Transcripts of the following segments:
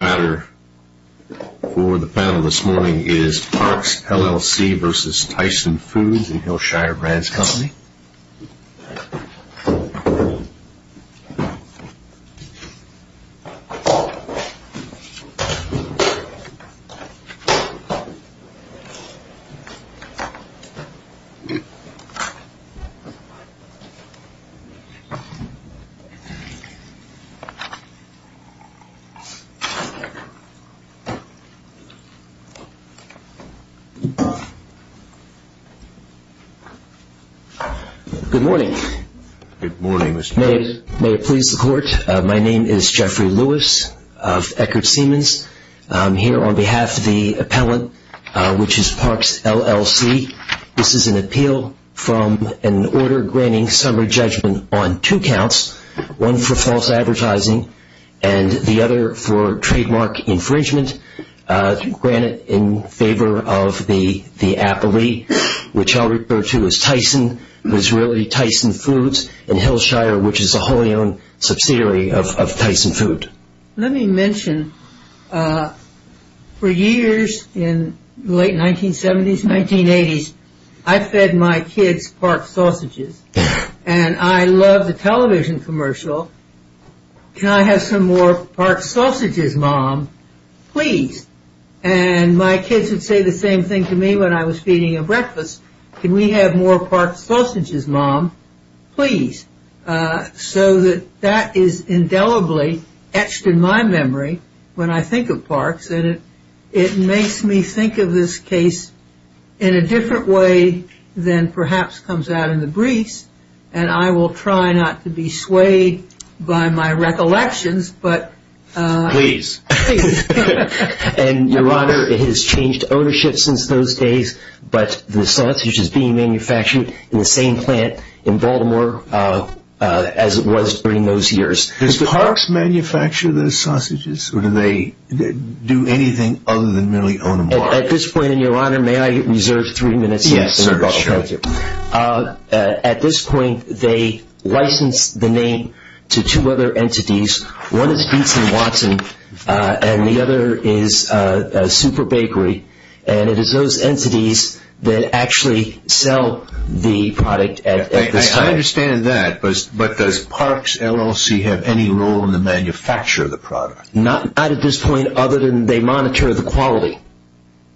The moderator for the panel this morning is Parks LLC v. Tyson Foods and Hillshire Brands Company. Good morning. May it please the court. My name is Jeffrey Lewis of Eckerd Siemens. I'm here on behalf of the appellant, which is Parks LLC. This is an appeal from an order granting summary judgment on two counts, one for false advertising and the other for trademark infringement granted in favor of the appellee, which I'll refer to as Tyson Foods and Hillshire, which is a wholly owned subsidiary of Tyson Foods. Let me mention, for years in the late 1970s, 1980s, I fed my kids Park Sausages and I loved the television commercial, Can I have some more Park Sausages, Mom, please? And my kids would say the same thing to me when I was feeding them breakfast, Can we have more Park Sausages, Mom, please? So that is indelibly etched in my memory when I think of Parks and it makes me think of this case in a different way than perhaps comes out in the briefs and I will try not to be swayed by my recollections. Your Honor, it has changed ownership since those days, but the sausage is being manufactured in the same plant in Baltimore as it was during those years. Does Parks manufacture those sausages or do they do anything other than merely own them? At this point, Your Honor, may I reserve three minutes? Yes, sir. At this point, they license the name to two other entities. One is Dietzen Watson and the other is Super Bakery and it is those entities that actually sell the product at this time. I understand that, but does Parks LLC have any role in the manufacture of the product? Not at this point other than they monitor the quality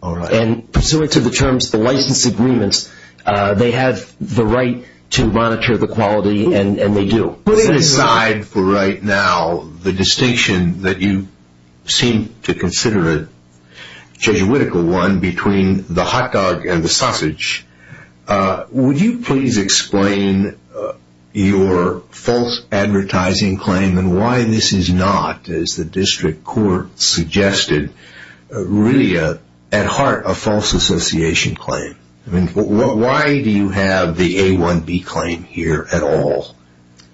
and pursuant to the terms of the license agreements, they have the right to monitor the quality and they do. Putting aside for right now the distinction that you seem to consider a Jesuitical one between the hot dog and the sausage, would you please explain your false advertising claim and why this is not, as the district court suggested, really at heart a false association claim? Why do you have the A1B claim here at all?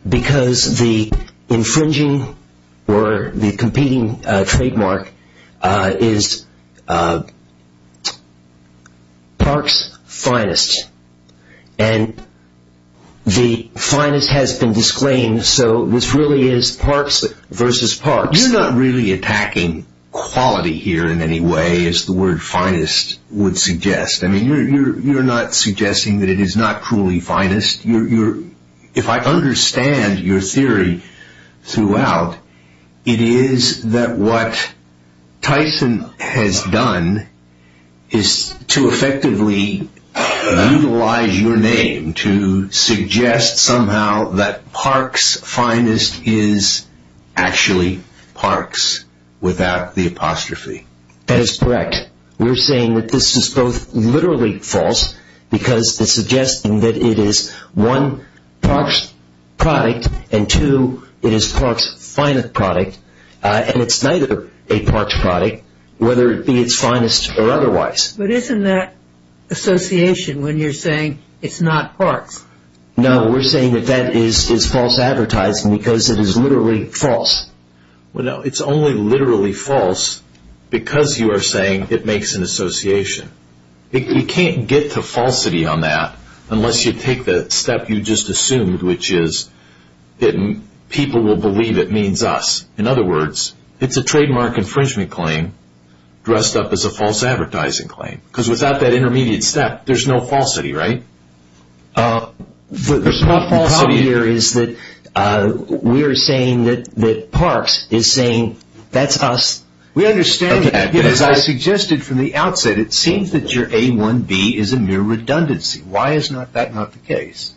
Because the infringing or the competing trademark is Parks Finest and the finest has been disclaimed, so this really is Parks versus Parks. You're not really attacking quality here in any way as the word finest would suggest. You're not suggesting that it is not truly finest. If I understand your theory throughout, it is that what Tyson has done is to effectively utilize your name to suggest somehow that Parks Finest is actually Parks without the apostrophe. That is correct. We're saying that this is both literally false because it's suggesting that it is one, Parks product and two, it is Parks Finest product and it's neither a Parks product whether it be its finest or otherwise. But isn't that association when you're saying it's not Parks? No, we're saying that that is false advertising because it is literally false. It's only literally false because you are saying it makes an association. You can't get to falsity on that unless you take the step you just assumed, which is that people will believe it means us. In other words, it's a trademark infringement claim dressed up as a false advertising claim. Because without that intermediate step, there's no falsity, right? The problem here is that we are saying that Parks is saying that's us. We understand that. As I suggested from the outset, it seems that your A1B is a mere redundancy. Why is that not the case?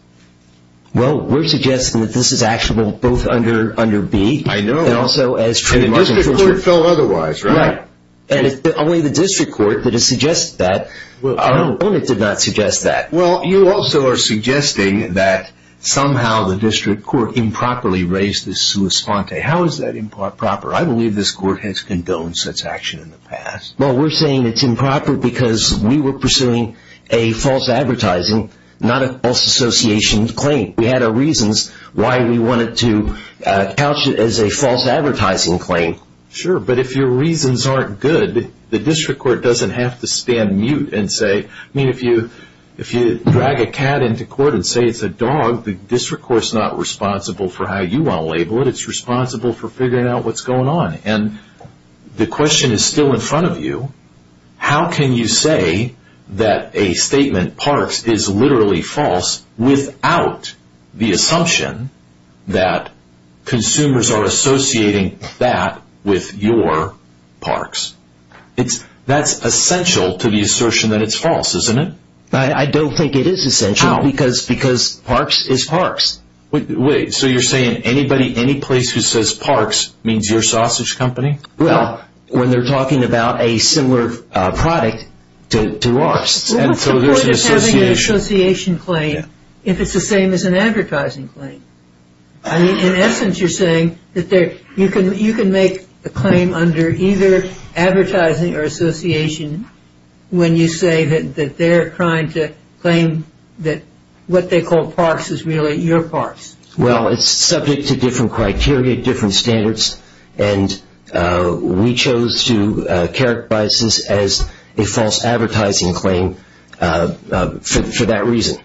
Well, we're suggesting that this is actually both under B. I know. And also as trademark infringement. And the district court felt otherwise, right? Right. And it's only the district court that has suggested that. Our opponent did not suggest that. Well, you also are suggesting that somehow the district court improperly raised this sua sponte. How is that improper? I believe this court has condoned such action in the past. Well, we're saying it's improper because we were pursuing a false advertising, not a false association claim. We had our reasons why we wanted to couch it as a false advertising claim. Sure, but if your reasons aren't good, the district court doesn't have to stand mute and say, I mean, if you drag a cat into court and say it's a dog, the district court is not responsible for how you want to label it. It's responsible for figuring out what's going on. And the question is still in front of you. How can you say that a statement Parks is literally false without the assumption that consumers are associating that with your Parks? That's essential to the assertion that it's false, isn't it? I don't think it is essential because Parks is Parks. Wait, so you're saying anybody, any place who says Parks means your sausage company? Well, when they're talking about a similar product to ours. What's the point of having an association claim if it's the same as an advertising claim? In essence, you're saying that you can make a claim under either advertising or association when you say that they're trying to claim that what they call Parks is really your Parks. Well, it's subject to different criteria, different standards, and we chose to characterize this as a false advertising claim for that reason.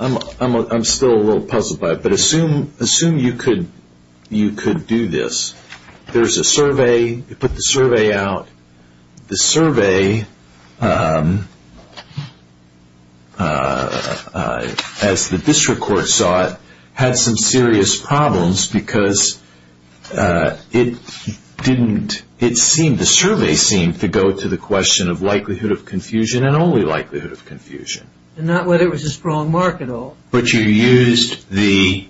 I'm still a little puzzled by it, but assume you could do this. There's a survey. You put the survey out. The survey, as the district court saw it, had some serious problems because the survey seemed to go to the question of likelihood of confusion and only likelihood of confusion. And not whether it was a strong mark at all. But you used the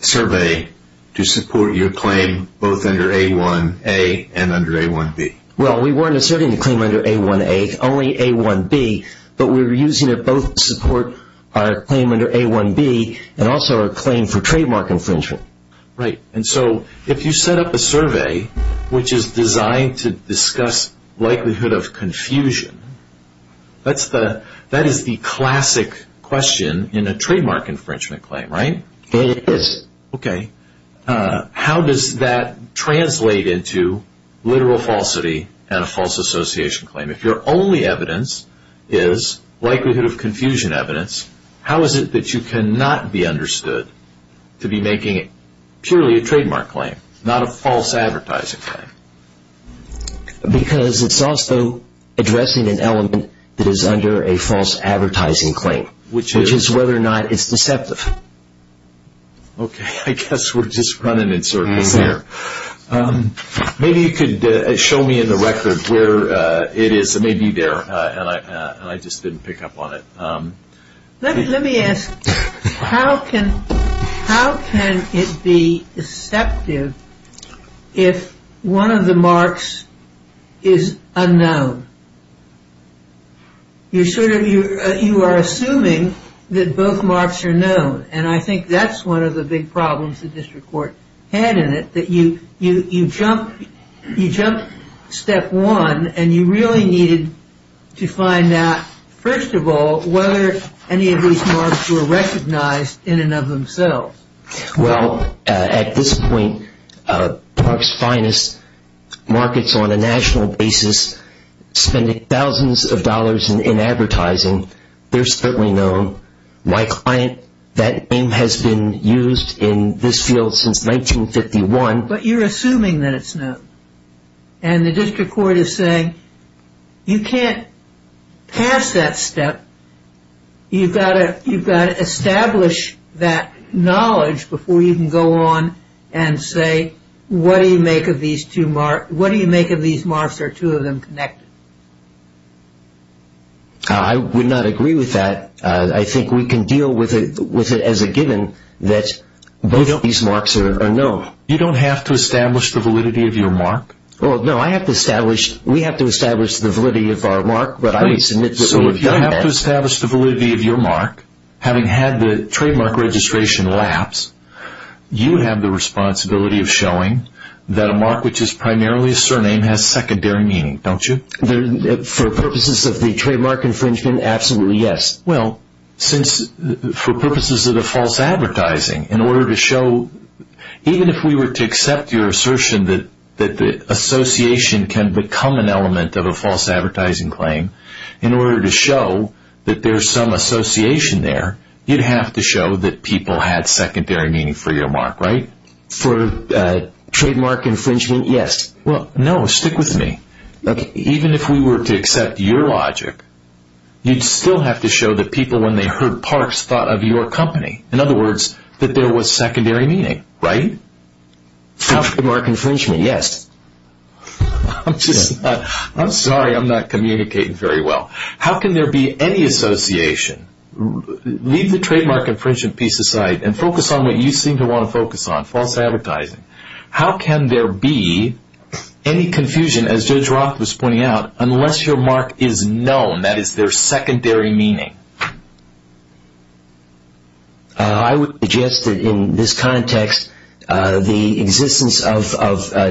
survey to support your claim both under A1A and under A1B. Well, we weren't asserting the claim under A1A, only A1B, but we were using it both to support our claim under A1B and also our claim for trademark infringement. Right. And so if you set up a survey which is designed to discuss likelihood of confusion, that is the classic question in a trademark infringement claim, right? It is. Okay. How does that translate into literal falsity and a false association claim? If your only evidence is likelihood of confusion evidence, how is it that you cannot be understood to be making it purely a trademark claim, not a false advertising claim? Because it's also addressing an element that is under a false advertising claim, which is whether or not it's deceptive. Okay. I guess we're just running in circles here. Maybe you could show me in the record where it is. It may be there, and I just didn't pick up on it. Let me ask, how can it be deceptive if one of the marks is unknown? You are assuming that both marks are known, and I think that's one of the big problems the district court had in it, that you jumped step one, and you really needed to find out, first of all, whether any of these marks were recognized in and of themselves. Well, at this point, Park's Finest markets on a national basis, spending thousands of dollars in advertising. They're certainly known. My client, that name has been used in this field since 1951. But you're assuming that it's known, and the district court is saying you can't pass that step. You've got to establish that knowledge before you can go on and say, what do you make of these marks? Are two of them connected? I would not agree with that. I think we can deal with it as a given that both of these marks are known. You don't have to establish the validity of your mark? No, we have to establish the validity of our mark, but I would submit that we have done that. If you have to establish the validity of your mark, having had the trademark registration lapse, you have the responsibility of showing that a mark which is primarily a surname has secondary meaning, don't you? For purposes of the trademark infringement, absolutely, yes. Well, for purposes of the false advertising, in order to show, even if we were to accept your assertion that the association can become an element of a false advertising claim, in order to show that there's some association there, you'd have to show that people had secondary meaning for your mark, right? For trademark infringement, yes. Well, no, stick with me. Even if we were to accept your logic, you'd still have to show that people, when they heard Parks, thought of your company. In other words, that there was secondary meaning, right? For trademark infringement, yes. I'm sorry, I'm not communicating very well. How can there be any association? Leave the trademark infringement piece aside and focus on what you seem to want to focus on, false advertising. How can there be any confusion, as Judge Roth was pointing out, unless your mark is known, that is, there's secondary meaning? I would suggest that, in this context, the existence of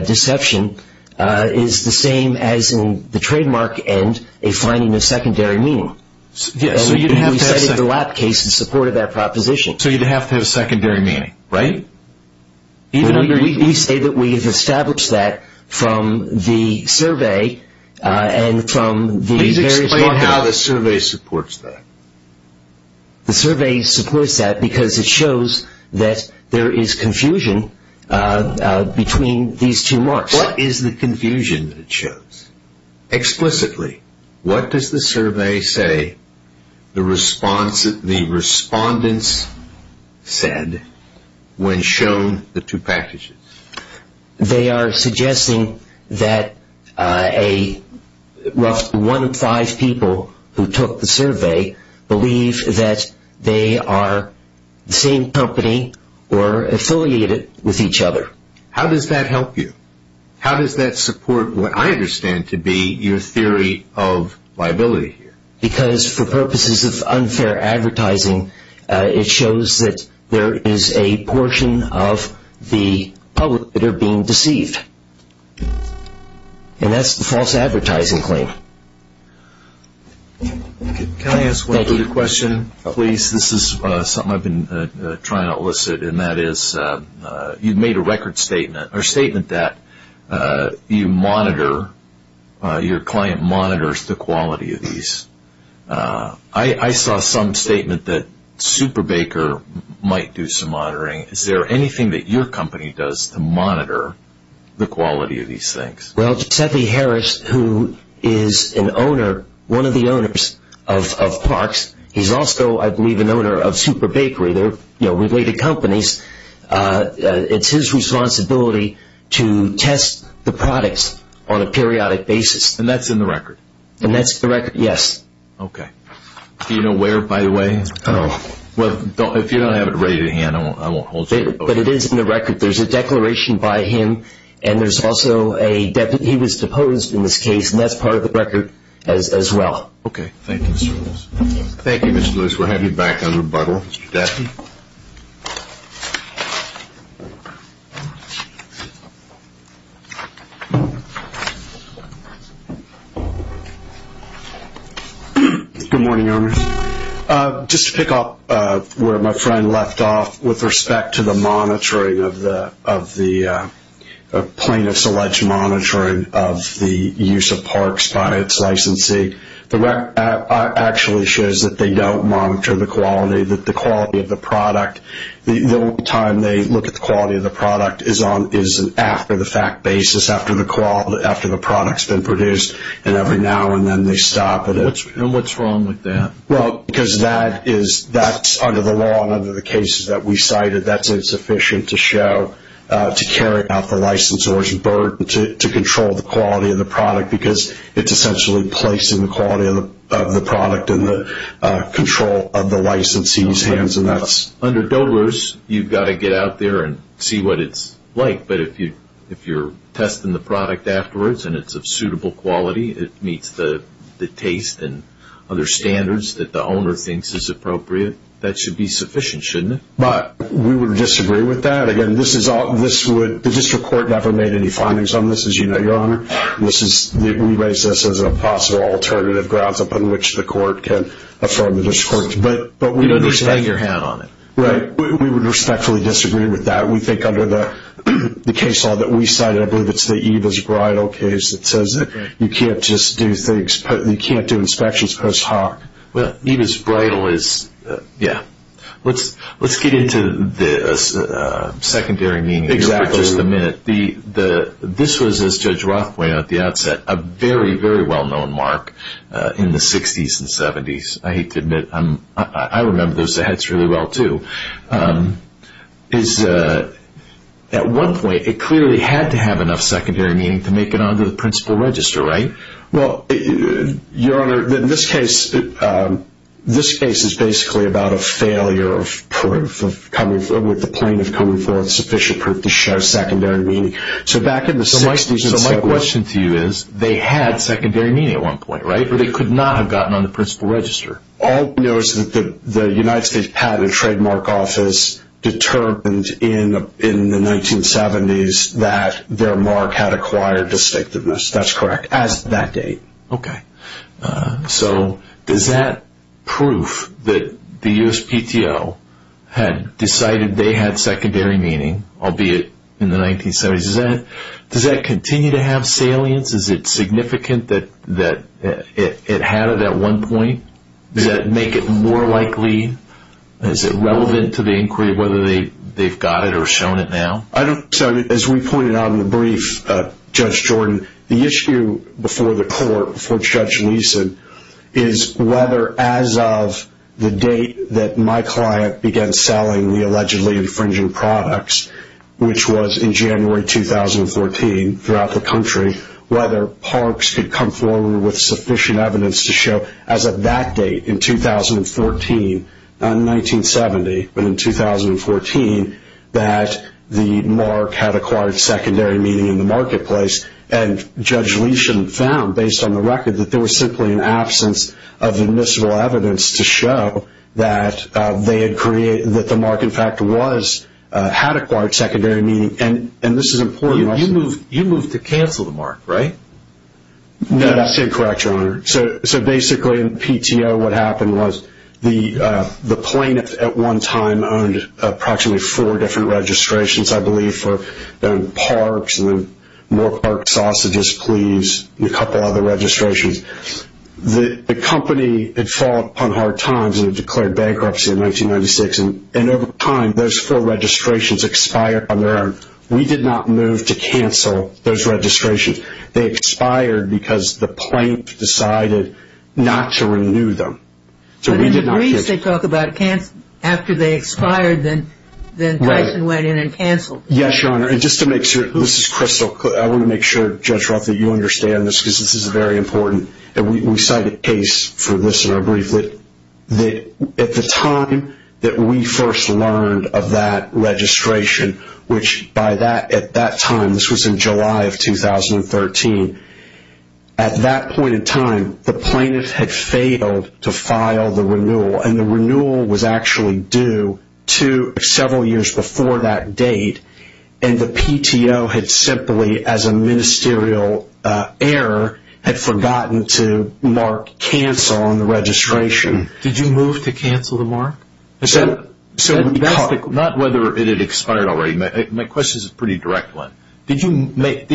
deception is the same as, in the trademark end, a finding of secondary meaning. Yes, so you'd have to have... And we cited the Lapp case in support of that proposition. So you'd have to have secondary meaning, right? We say that we have established that from the survey and from the various... Explain how the survey supports that. The survey supports that because it shows that there is confusion between these two marks. What is the confusion that it shows? Explicitly, what does the survey say the respondents said when shown the two packages? They are suggesting that a rough one in five people who took the survey believe that they are the same company or affiliated with each other. How does that help you? How does that support what I understand to be your theory of liability here? Because, for purposes of unfair advertising, it shows that there is a portion of the public that are being deceived. And that's the false advertising claim. Can I ask one other question, please? This is something I've been trying to elicit. You've made a statement that your client monitors the quality of these. I saw some statement that Superbaker might do some monitoring. Is there anything that your company does to monitor the quality of these things? Well, Sethi Harris, who is an owner, one of the owners of Parks, he's also, I believe, an owner of Superbakery. They're related companies. It's his responsibility to test the products on a periodic basis. And that's in the record? And that's the record, yes. Okay. Do you know where, by the way? Well, if you don't have it ready to hand, I won't hold you to it. But it is in the record. There's a declaration by him, and there's also a deputy. He was deposed in this case, and that's part of the record as well. Okay. Thank you, Mr. Lewis. Thank you, Mr. Lewis. We'll have you back on rebuttal. Mr. Duffy? Good morning, owners. Just to pick up where my friend left off with respect to the monitoring of the plaintiff's alleged monitoring of the use of Parks by its licensee, the record actually shows that they don't monitor the quality of the product. The only time they look at the quality of the product is after the fact basis, after the product's been produced, and every now and then they stop it. And what's wrong with that? Well, because that's under the law and under the cases that we cited, that's insufficient to show to carry out the licensor's burden to control the quality of the product because it's essentially placing the quality of the product in the control of the licensee's hands. Under DOTA laws, you've got to get out there and see what it's like, but if you're testing the product afterwards and it's of suitable quality, it meets the taste and other standards that the owner thinks is appropriate, that should be sufficient, shouldn't it? But we would disagree with that. Again, the district court never made any findings on this, as you know, Your Honor. We raise this as a possible alternative grounds upon which the court can affirm the district court. You don't need to hang your hat on it. Right. We would respectfully disagree with that. We think under the case law that we cited, I believe it's the Eva's Bridal case, that says that you can't do inspections post hoc. Eva's Bridal is, yeah. Let's get into the secondary meaning here for just a minute. This was, as Judge Roth pointed out at the outset, a very, very well-known mark in the 60s and 70s. I hate to admit, I remember those heads really well, too. At one point, it clearly had to have enough secondary meaning to make it onto the principal register, right? Well, Your Honor, in this case, this case is basically about a failure of proof, with the plaintiff coming forward with sufficient proof to show secondary meaning. So back in the 60s and 70s. So my question to you is, they had secondary meaning at one point, right? But it could not have gotten on the principal register. All we know is that the United States Patent and Trademark Office determined in the 1970s that their mark had acquired distinctiveness. That's correct. As of that date. Okay. So does that proof that the USPTO had decided they had secondary meaning, albeit in the 1970s, does that continue to have salience? Is it significant that it had it at one point? Does that make it more likely? Is it relevant to the inquiry, whether they've got it or shown it now? As we pointed out in the brief, Judge Jordan, the issue before the court, before Judge Leeson, is whether as of the date that my client began selling the allegedly infringing products, which was in January 2014, throughout the country, whether Parks could come forward with sufficient evidence to show as of that date in 2014, not in 1970, but in 2014, that the mark had acquired secondary meaning in the marketplace. And Judge Leeson found, based on the record, that there was simply an absence of admissible evidence to show that they had created, that the mark, in fact, had acquired secondary meaning. And this is important. You moved to cancel the mark, right? That's incorrect, Your Honor. So basically in PTO what happened was the plaintiff at one time owned approximately four different registrations, I believe, for Parks and then more Parks sausages, please, and a couple other registrations. The company had fallen upon hard times and had declared bankruptcy in 1996, and over time those four registrations expired on their own. We did not move to cancel those registrations. They expired because the plaintiff decided not to renew them. But in the briefs they talk about after they expired, then Tyson went in and canceled. Yes, Your Honor, and just to make sure, this is crystal clear. I want to make sure, Judge Roth, that you understand this because this is very important. We cite a case for this in our brief that at the time that we first learned of that registration, which at that time, this was in July of 2013, at that point in time, and the renewal was actually due to several years before that date, and the PTO had simply, as a ministerial error, had forgotten to mark cancel on the registration. Did you move to cancel the mark? Not whether it had expired already. My question is a pretty direct one. Did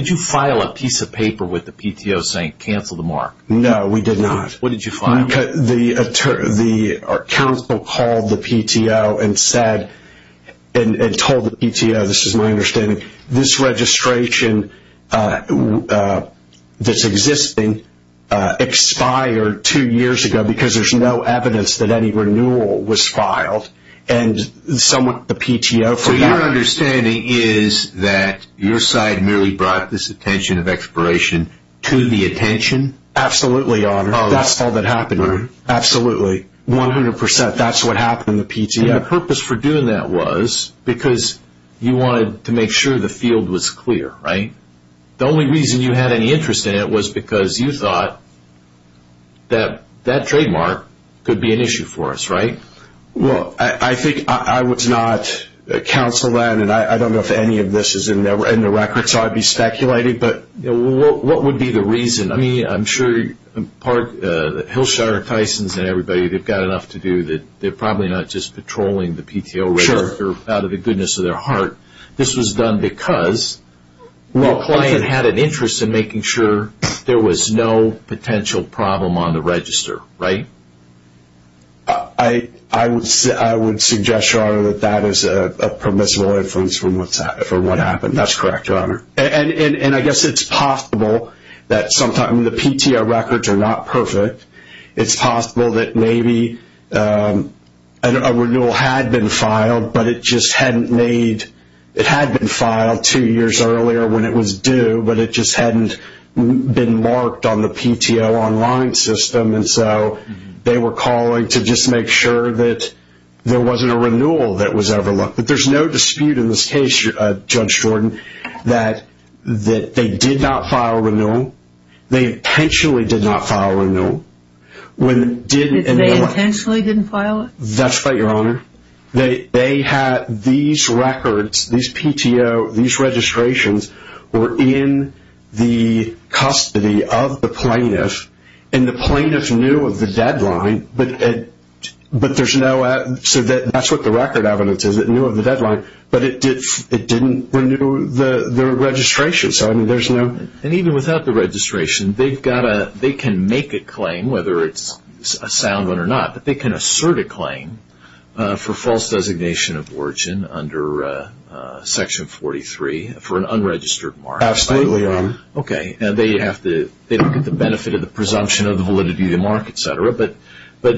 you file a piece of paper with the PTO saying cancel the mark? No, we did not. What did you file? The counsel called the PTO and told the PTO, this is my understanding, this registration that's existing expired two years ago because there's no evidence that any renewal was filed, and the PTO forgot. So your understanding is that your side merely brought this attention of expiration to the attention? Absolutely, Your Honor. That's all that happened. Absolutely, 100%. That's what happened in the PTO. The purpose for doing that was because you wanted to make sure the field was clear, right? The only reason you had any interest in it was because you thought that that trademark could be an issue for us, right? Well, I think I was not counsel then, and I don't know if any of this is in the records, so I'd be speculating, but what would be the reason? I mean, I'm sure Hillshire, Tysons, and everybody, they've got enough to do. They're probably not just patrolling the PTO register out of the goodness of their heart. This was done because your client had an interest in making sure there was no potential problem on the register, right? I would suggest, Your Honor, that that is a permissible influence for what happened. That's correct, Your Honor. And I guess it's possible that sometimes the PTO records are not perfect. It's possible that maybe a renewal had been filed, but it just hadn't made – it had been filed two years earlier when it was due, but it just hadn't been marked on the PTO online system, and so they were calling to just make sure that there wasn't a renewal that was overlooked. But there's no dispute in this case, Judge Jordan, that they did not file renewal. They intentionally did not file renewal. They intentionally didn't file it? That's right, Your Honor. They had these records, these PTO, these registrations were in the custody of the plaintiff, and the plaintiff knew of the deadline, so that's what the record evidence is. It knew of the deadline, but it didn't renew the registration. And even without the registration, they can make a claim, whether it's a sound one or not, but they can assert a claim for false designation of origin under Section 43 for an unregistered mark. Absolutely, Your Honor. Okay, and they don't get the benefit of the presumption of the validity of the mark, et cetera, but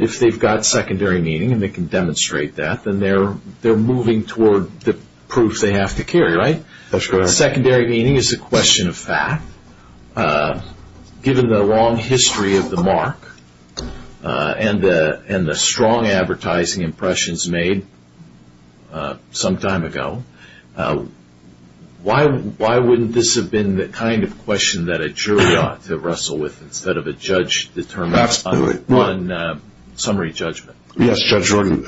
if they've got secondary meaning and they can demonstrate that, then they're moving toward the proof they have to carry, right? That's correct. Secondary meaning is a question of fact. Given the long history of the mark and the strong advertising impressions made some time ago, why wouldn't this have been the kind of question that a jury ought to wrestle with instead of a judge determining on summary judgment? Yes, Judge Jordan.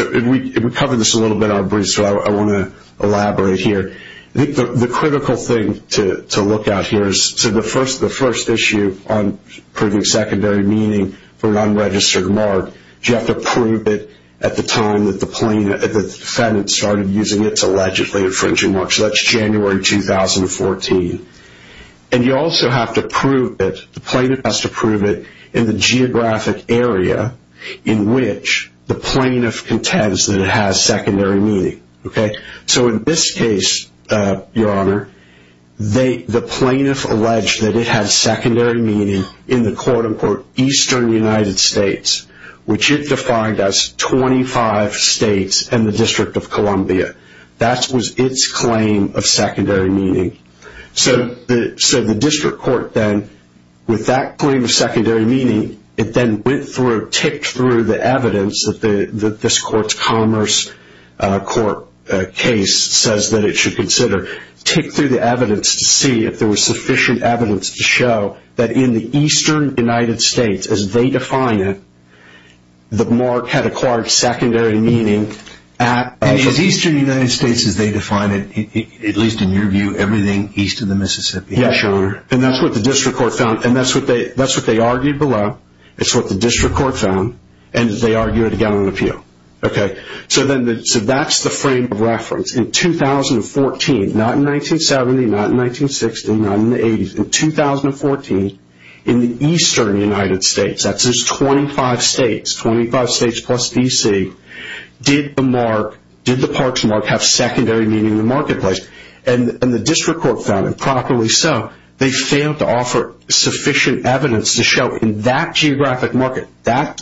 We covered this a little bit in our brief, so I want to elaborate here. The critical thing to look at here is the first issue on proving secondary meaning for an unregistered mark, you have to prove it at the time that the defendant started using its allegedly infringing mark, so that's January 2014. And you also have to prove it, the plaintiff has to prove it in the geographic area in which the plaintiff contends that it has secondary meaning, okay? So in this case, Your Honor, the plaintiff alleged that it has secondary meaning in the, quote, unquote, Eastern United States, which it defined as 25 states and the District of Columbia. That was its claim of secondary meaning. So the district court then, with that claim of secondary meaning, it then went through, ticked through the evidence that this court's commerce court case says that it should consider, ticked through the evidence to see if there was sufficient evidence to show that in the Eastern United States, as they define it, the mark had acquired secondary meaning. And the Eastern United States, as they define it, at least in your view, everything east of the Mississippi. Yes, Your Honor. And that's what the district court found, and that's what they argued below, it's what the district court found, and they argued it again on appeal. Okay? So that's the frame of reference. Not in 1970, not in 1960, not in the 80s. In 2014, in the Eastern United States, that's just 25 states, 25 states plus D.C., did the mark, did the parks mark have secondary meaning in the marketplace? And the district court found, and properly so, they failed to offer sufficient evidence to show in that geographic market,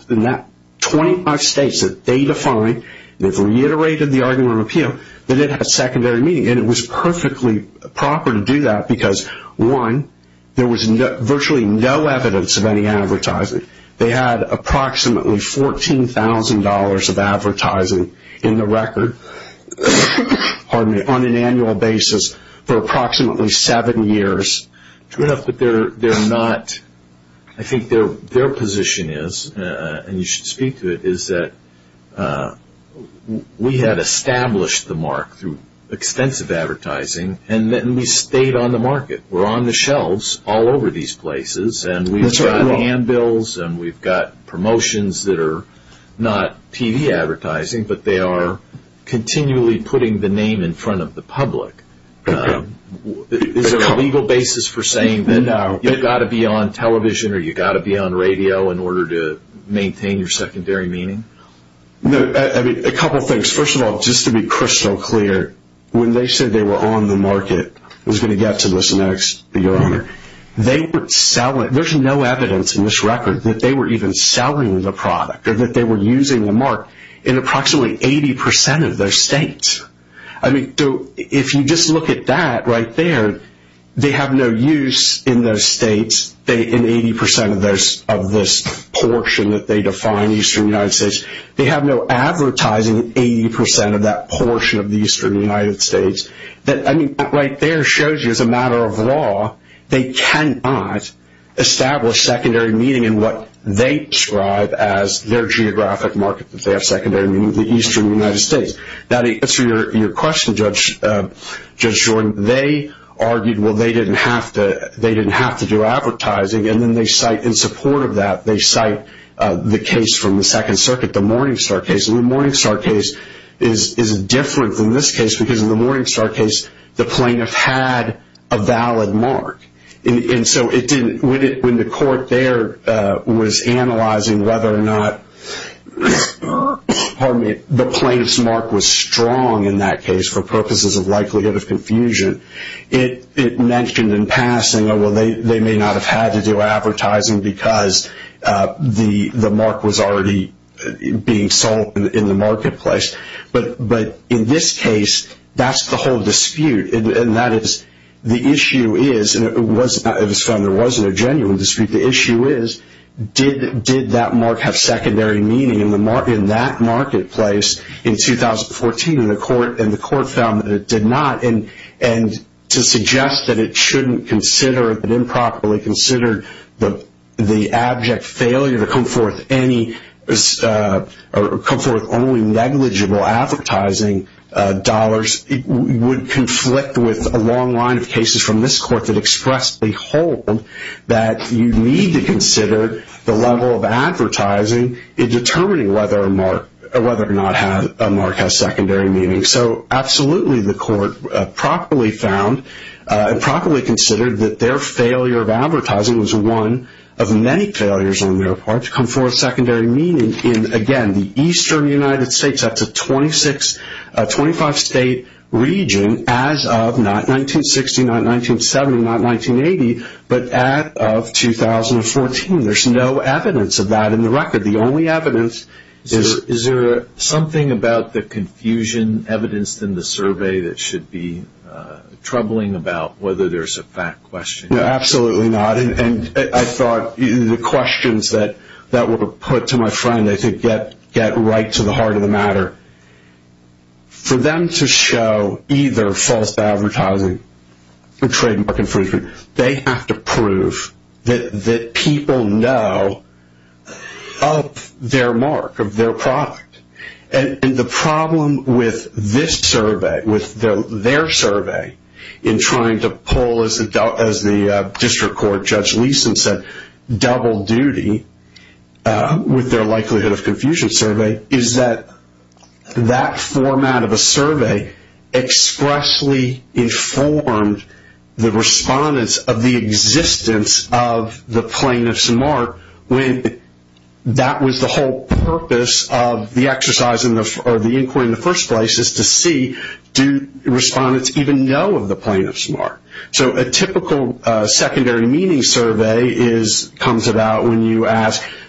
in that 25 states that they define, they've reiterated the argument on appeal, that it had secondary meaning. And it was perfectly proper to do that because, one, there was virtually no evidence of any advertising. They had approximately $14,000 of advertising in the record on an annual basis for approximately seven years. True enough, but they're not, I think their position is, and you should speak to it, is that we had established the mark through extensive advertising, and then we stayed on the market. We're on the shelves all over these places, and we've got handbills, and we've got promotions that are not TV advertising, but they are continually putting the name in front of the public. Is there a legal basis for saying that you've got to be on television, or you've got to be on radio, in order to maintain your secondary meaning? A couple things. First of all, just to be crystal clear, when they said they were on the market, I was going to get to this next, but Your Honor, they were selling, there's no evidence in this record that they were even selling the product, or that they were using the mark in approximately 80% of their states. If you just look at that right there, they have no use in those states, in 80% of this portion that they define, Eastern United States. They have no advertising in 80% of that portion of the Eastern United States. That right there shows you, as a matter of law, they cannot establish secondary meaning in what they describe as their geographic market, that they have secondary meaning in the Eastern United States. Now, to answer your question, Judge Jordan, they argued, well, they didn't have to do advertising, and then they cite, in support of that, they cite the case from the Second Circuit, the Morningstar case. The Morningstar case is different than this case, because in the Morningstar case, the plaintiff had a valid mark. When the court there was analyzing whether or not the plaintiff's mark was strong in that case, for purposes of likelihood of confusion, it mentioned in passing, oh, well, they may not have had to do advertising because the mark was already being sold in the marketplace. But in this case, that's the whole dispute. And that is, the issue is, and it was found there wasn't a genuine dispute. The issue is, did that mark have secondary meaning in that marketplace in 2014? And the court found that it did not. And to suggest that it shouldn't consider it, that improperly considered the abject failure to come forth only negligible advertising dollars, would conflict with a long line of cases from this court that express the whole, that you need to consider the level of advertising in determining whether or not a mark has secondary meaning. So absolutely, the court properly found and properly considered that their failure of advertising was one of many failures on their part to come forth secondary meaning in, again, the eastern United States. That's a 25-state region as of not 1960, not 1970, not 1980, but as of 2014. There's no evidence of that in the record. The only evidence is... Is there something about the confusion evidenced in the survey that should be troubling about whether there's a fact question? No, absolutely not. And I thought the questions that were put to my friend, I think, get right to the heart of the matter. For them to show either false advertising or trademark infringement, they have to prove that people know of their mark, of their product. And the problem with this survey, with their survey, in trying to pull, as the District Court Judge Leeson said, double duty with their likelihood of confusion survey, is that that format of a survey expressly informed the respondents of the existence of the plaintiff's mark when that was the whole purpose of the inquiry in the first place, is to see, do respondents even know of the plaintiff's mark? So a typical secondary meaning survey comes about when you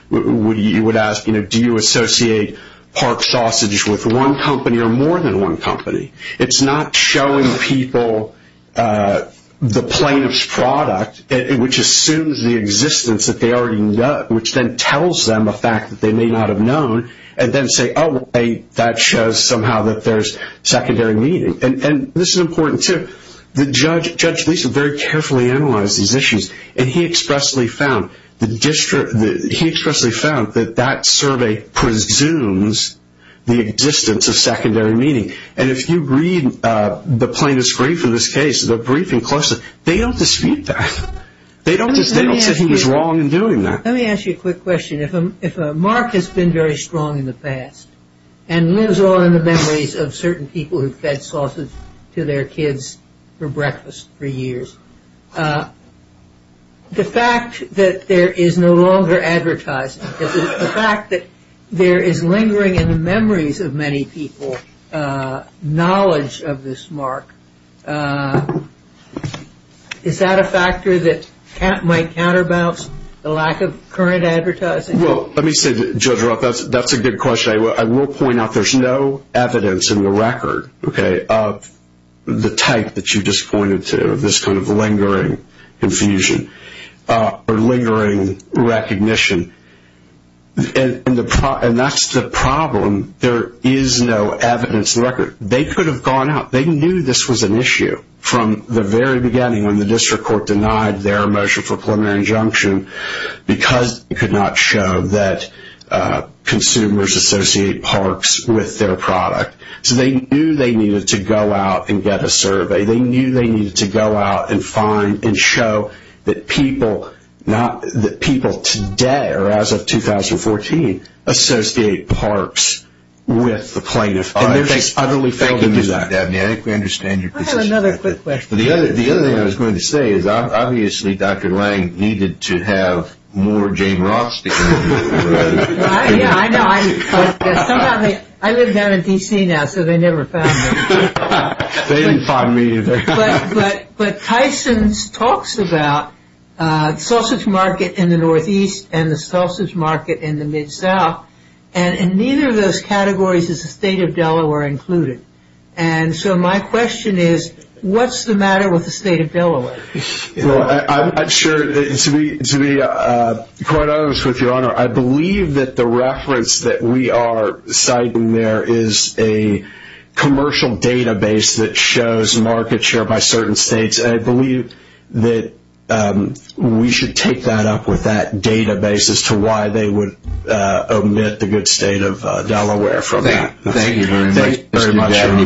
would ask, do you associate Park Sausage with one company or more than one company? It's not showing people the plaintiff's product, which assumes the existence that they already know, which then tells them a fact that they may not have known, and then say, oh, wait, that shows somehow that there's secondary meaning. And this is important, too. Judge Leeson very carefully analyzed these issues, and he expressly found that that survey presumes the existence of secondary meaning. And if you read the plaintiff's brief in this case, the briefing closely, they don't dispute that. They don't say he was wrong in doing that. Let me ask you a quick question. If a mark has been very strong in the past and lives on in the memories of certain people who fed sausage to their kids for breakfast for years, the fact that there is no longer advertising, the fact that there is lingering in the memories of many people knowledge of this mark, is that a factor that might counterbalance the lack of current advertising? Well, let me say, Judge Roth, that's a good question. I will point out there's no evidence in the record of the type that you just pointed to, of this kind of lingering confusion or lingering recognition. And that's the problem. There is no evidence in the record. They could have gone out. They knew this was an issue from the very beginning when the district court denied their motion for preliminary injunction because it could not show that consumers associate parks with their product. So they knew they needed to go out and get a survey. They knew they needed to go out and find and show that people today, or as of 2014, associate parks with the plaintiff. Thank you, Mr. Dabney. I think we understand your position. I have another quick question. The other thing I was going to say is obviously Dr. Lange needed to have more Jane Roth stickers. I know. I live down in D.C. now, so they never found me. They didn't find me either. But Tyson talks about sausage market in the Northeast and the sausage market in the Mid-South, and in neither of those categories is the state of Delaware included. And so my question is, what's the matter with the state of Delaware? I'm not sure. To be quite honest with you, Your Honor, I believe that the reference that we are citing there is a commercial database that shows market share by certain states, and I believe that we should take that up with that database as to why they would omit the good state of Delaware from that. Thank you very much, Mr. Dabney.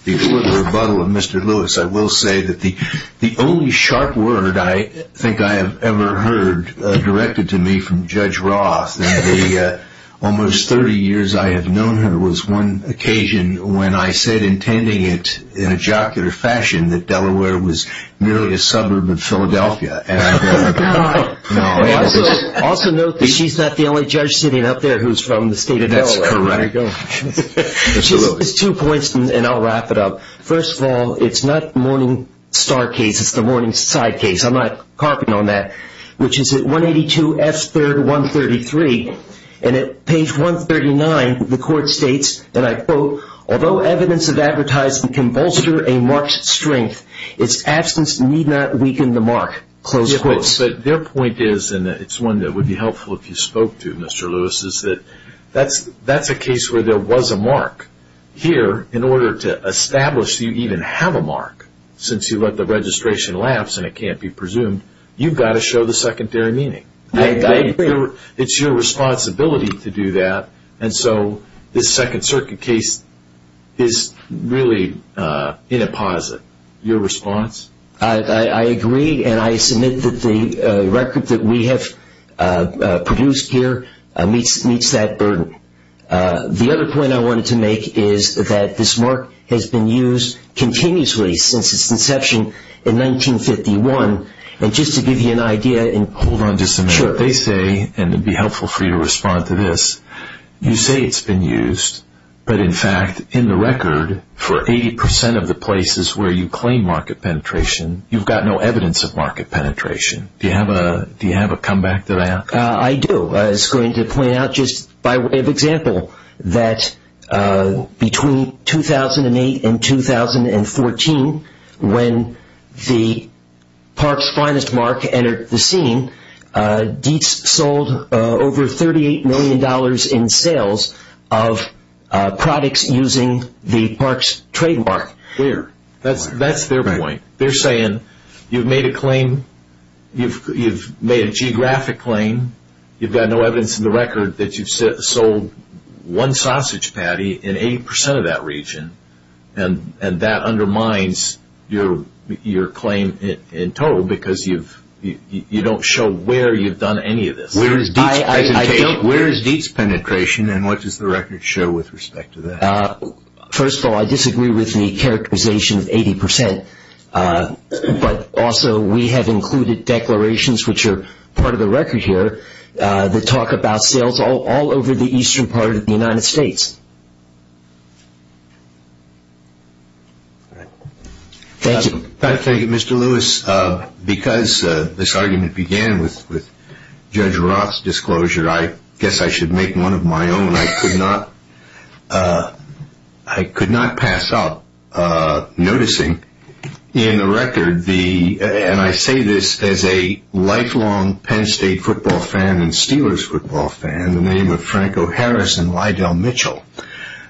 Before the rebuttal of Mr. Lewis, I will say that the only sharp word I think I have ever heard directed to me from Judge Roth, in the almost 30 years I have known her, was one occasion when I said, intending it in a jocular fashion, that Delaware was merely a suburb of Philadelphia. Also note that she's not the only judge sitting up there who's from the state of Delaware. That's correct. There you go. There's two points, and I'll wrap it up. First of all, it's not Morningstar case. It's the Morningside case. I'm not carping on that, which is at 182 F. 3rd, 133. And at page 139, the court states, and I quote, although evidence of advertising can bolster a mark's strength, its absence need not weaken the mark. Close quotes. But their point is, and it's one that would be helpful if you spoke to, Mr. Lewis, is that that's a case where there was a mark. Here, in order to establish you even have a mark, since you let the registration lapse and it can't be presumed, you've got to show the secondary meaning. I agree. It's your responsibility to do that, and so this Second Circuit case is really in a posit. Your response? I agree, and I submit that the record that we have produced here meets that burden. The other point I wanted to make is that this mark has been used continuously since its inception in 1951, and just to give you an idea. Hold on just a minute. Sure. They say, and it would be helpful for you to respond to this, you say it's been used, but in fact, in the record, for 80% of the places where you claim market penetration, you've got no evidence of market penetration. Do you have a comeback to that? I do. I was going to point out just by way of example that between 2008 and 2014, when the park's finest mark entered the scene, Dietz sold over $38 million in sales of products using the park's trademark. That's their point. They're saying you've made a claim, you've made a geographic claim, you've got no evidence in the record that you've sold one sausage patty in 80% of that region, and that undermines your claim in total because you don't show where you've done any of this. Where is Dietz's penetration, and what does the record show with respect to that? First of all, I disagree with the characterization of 80%, but also we have included declarations which are part of the record here that talk about sales all over the eastern part of the United States. Thank you. Thank you, Mr. Lewis. Because this argument began with Judge Roth's disclosure, I guess I should make one of my own. I could not pass up noticing in the record, and I say this as a lifelong Penn State football fan and Steelers football fan, the name of Franco Harris and Lydell Mitchell.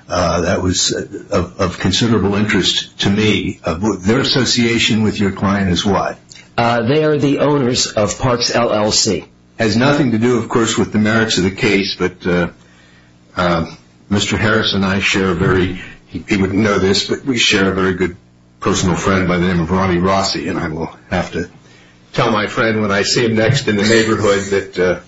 That was of considerable interest to me. Their association with your client is what? They are the owners of Parks LLC. It has nothing to do, of course, with the merits of the case, but Mr. Harris and I share a very, he wouldn't know this, but we share a very good personal friend by the name of Ronnie Rossi, and I will have to tell my friend when I see him next in the neighborhood that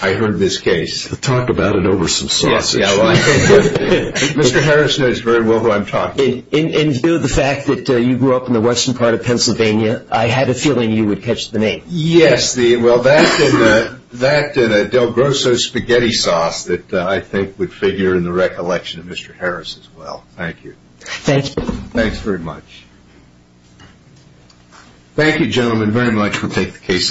I heard of his case. Talk about an over some sausage. Mr. Harris knows very well who I'm talking about. In view of the fact that you grew up in the western part of Pennsylvania, I had a feeling you would catch the name. Yes. Well, that and a Del Grosso spaghetti sauce that I think would figure in the recollection of Mr. Harris as well. Thank you. Thanks. Thanks very much. Thank you, gentlemen, very much. We'll take the case now.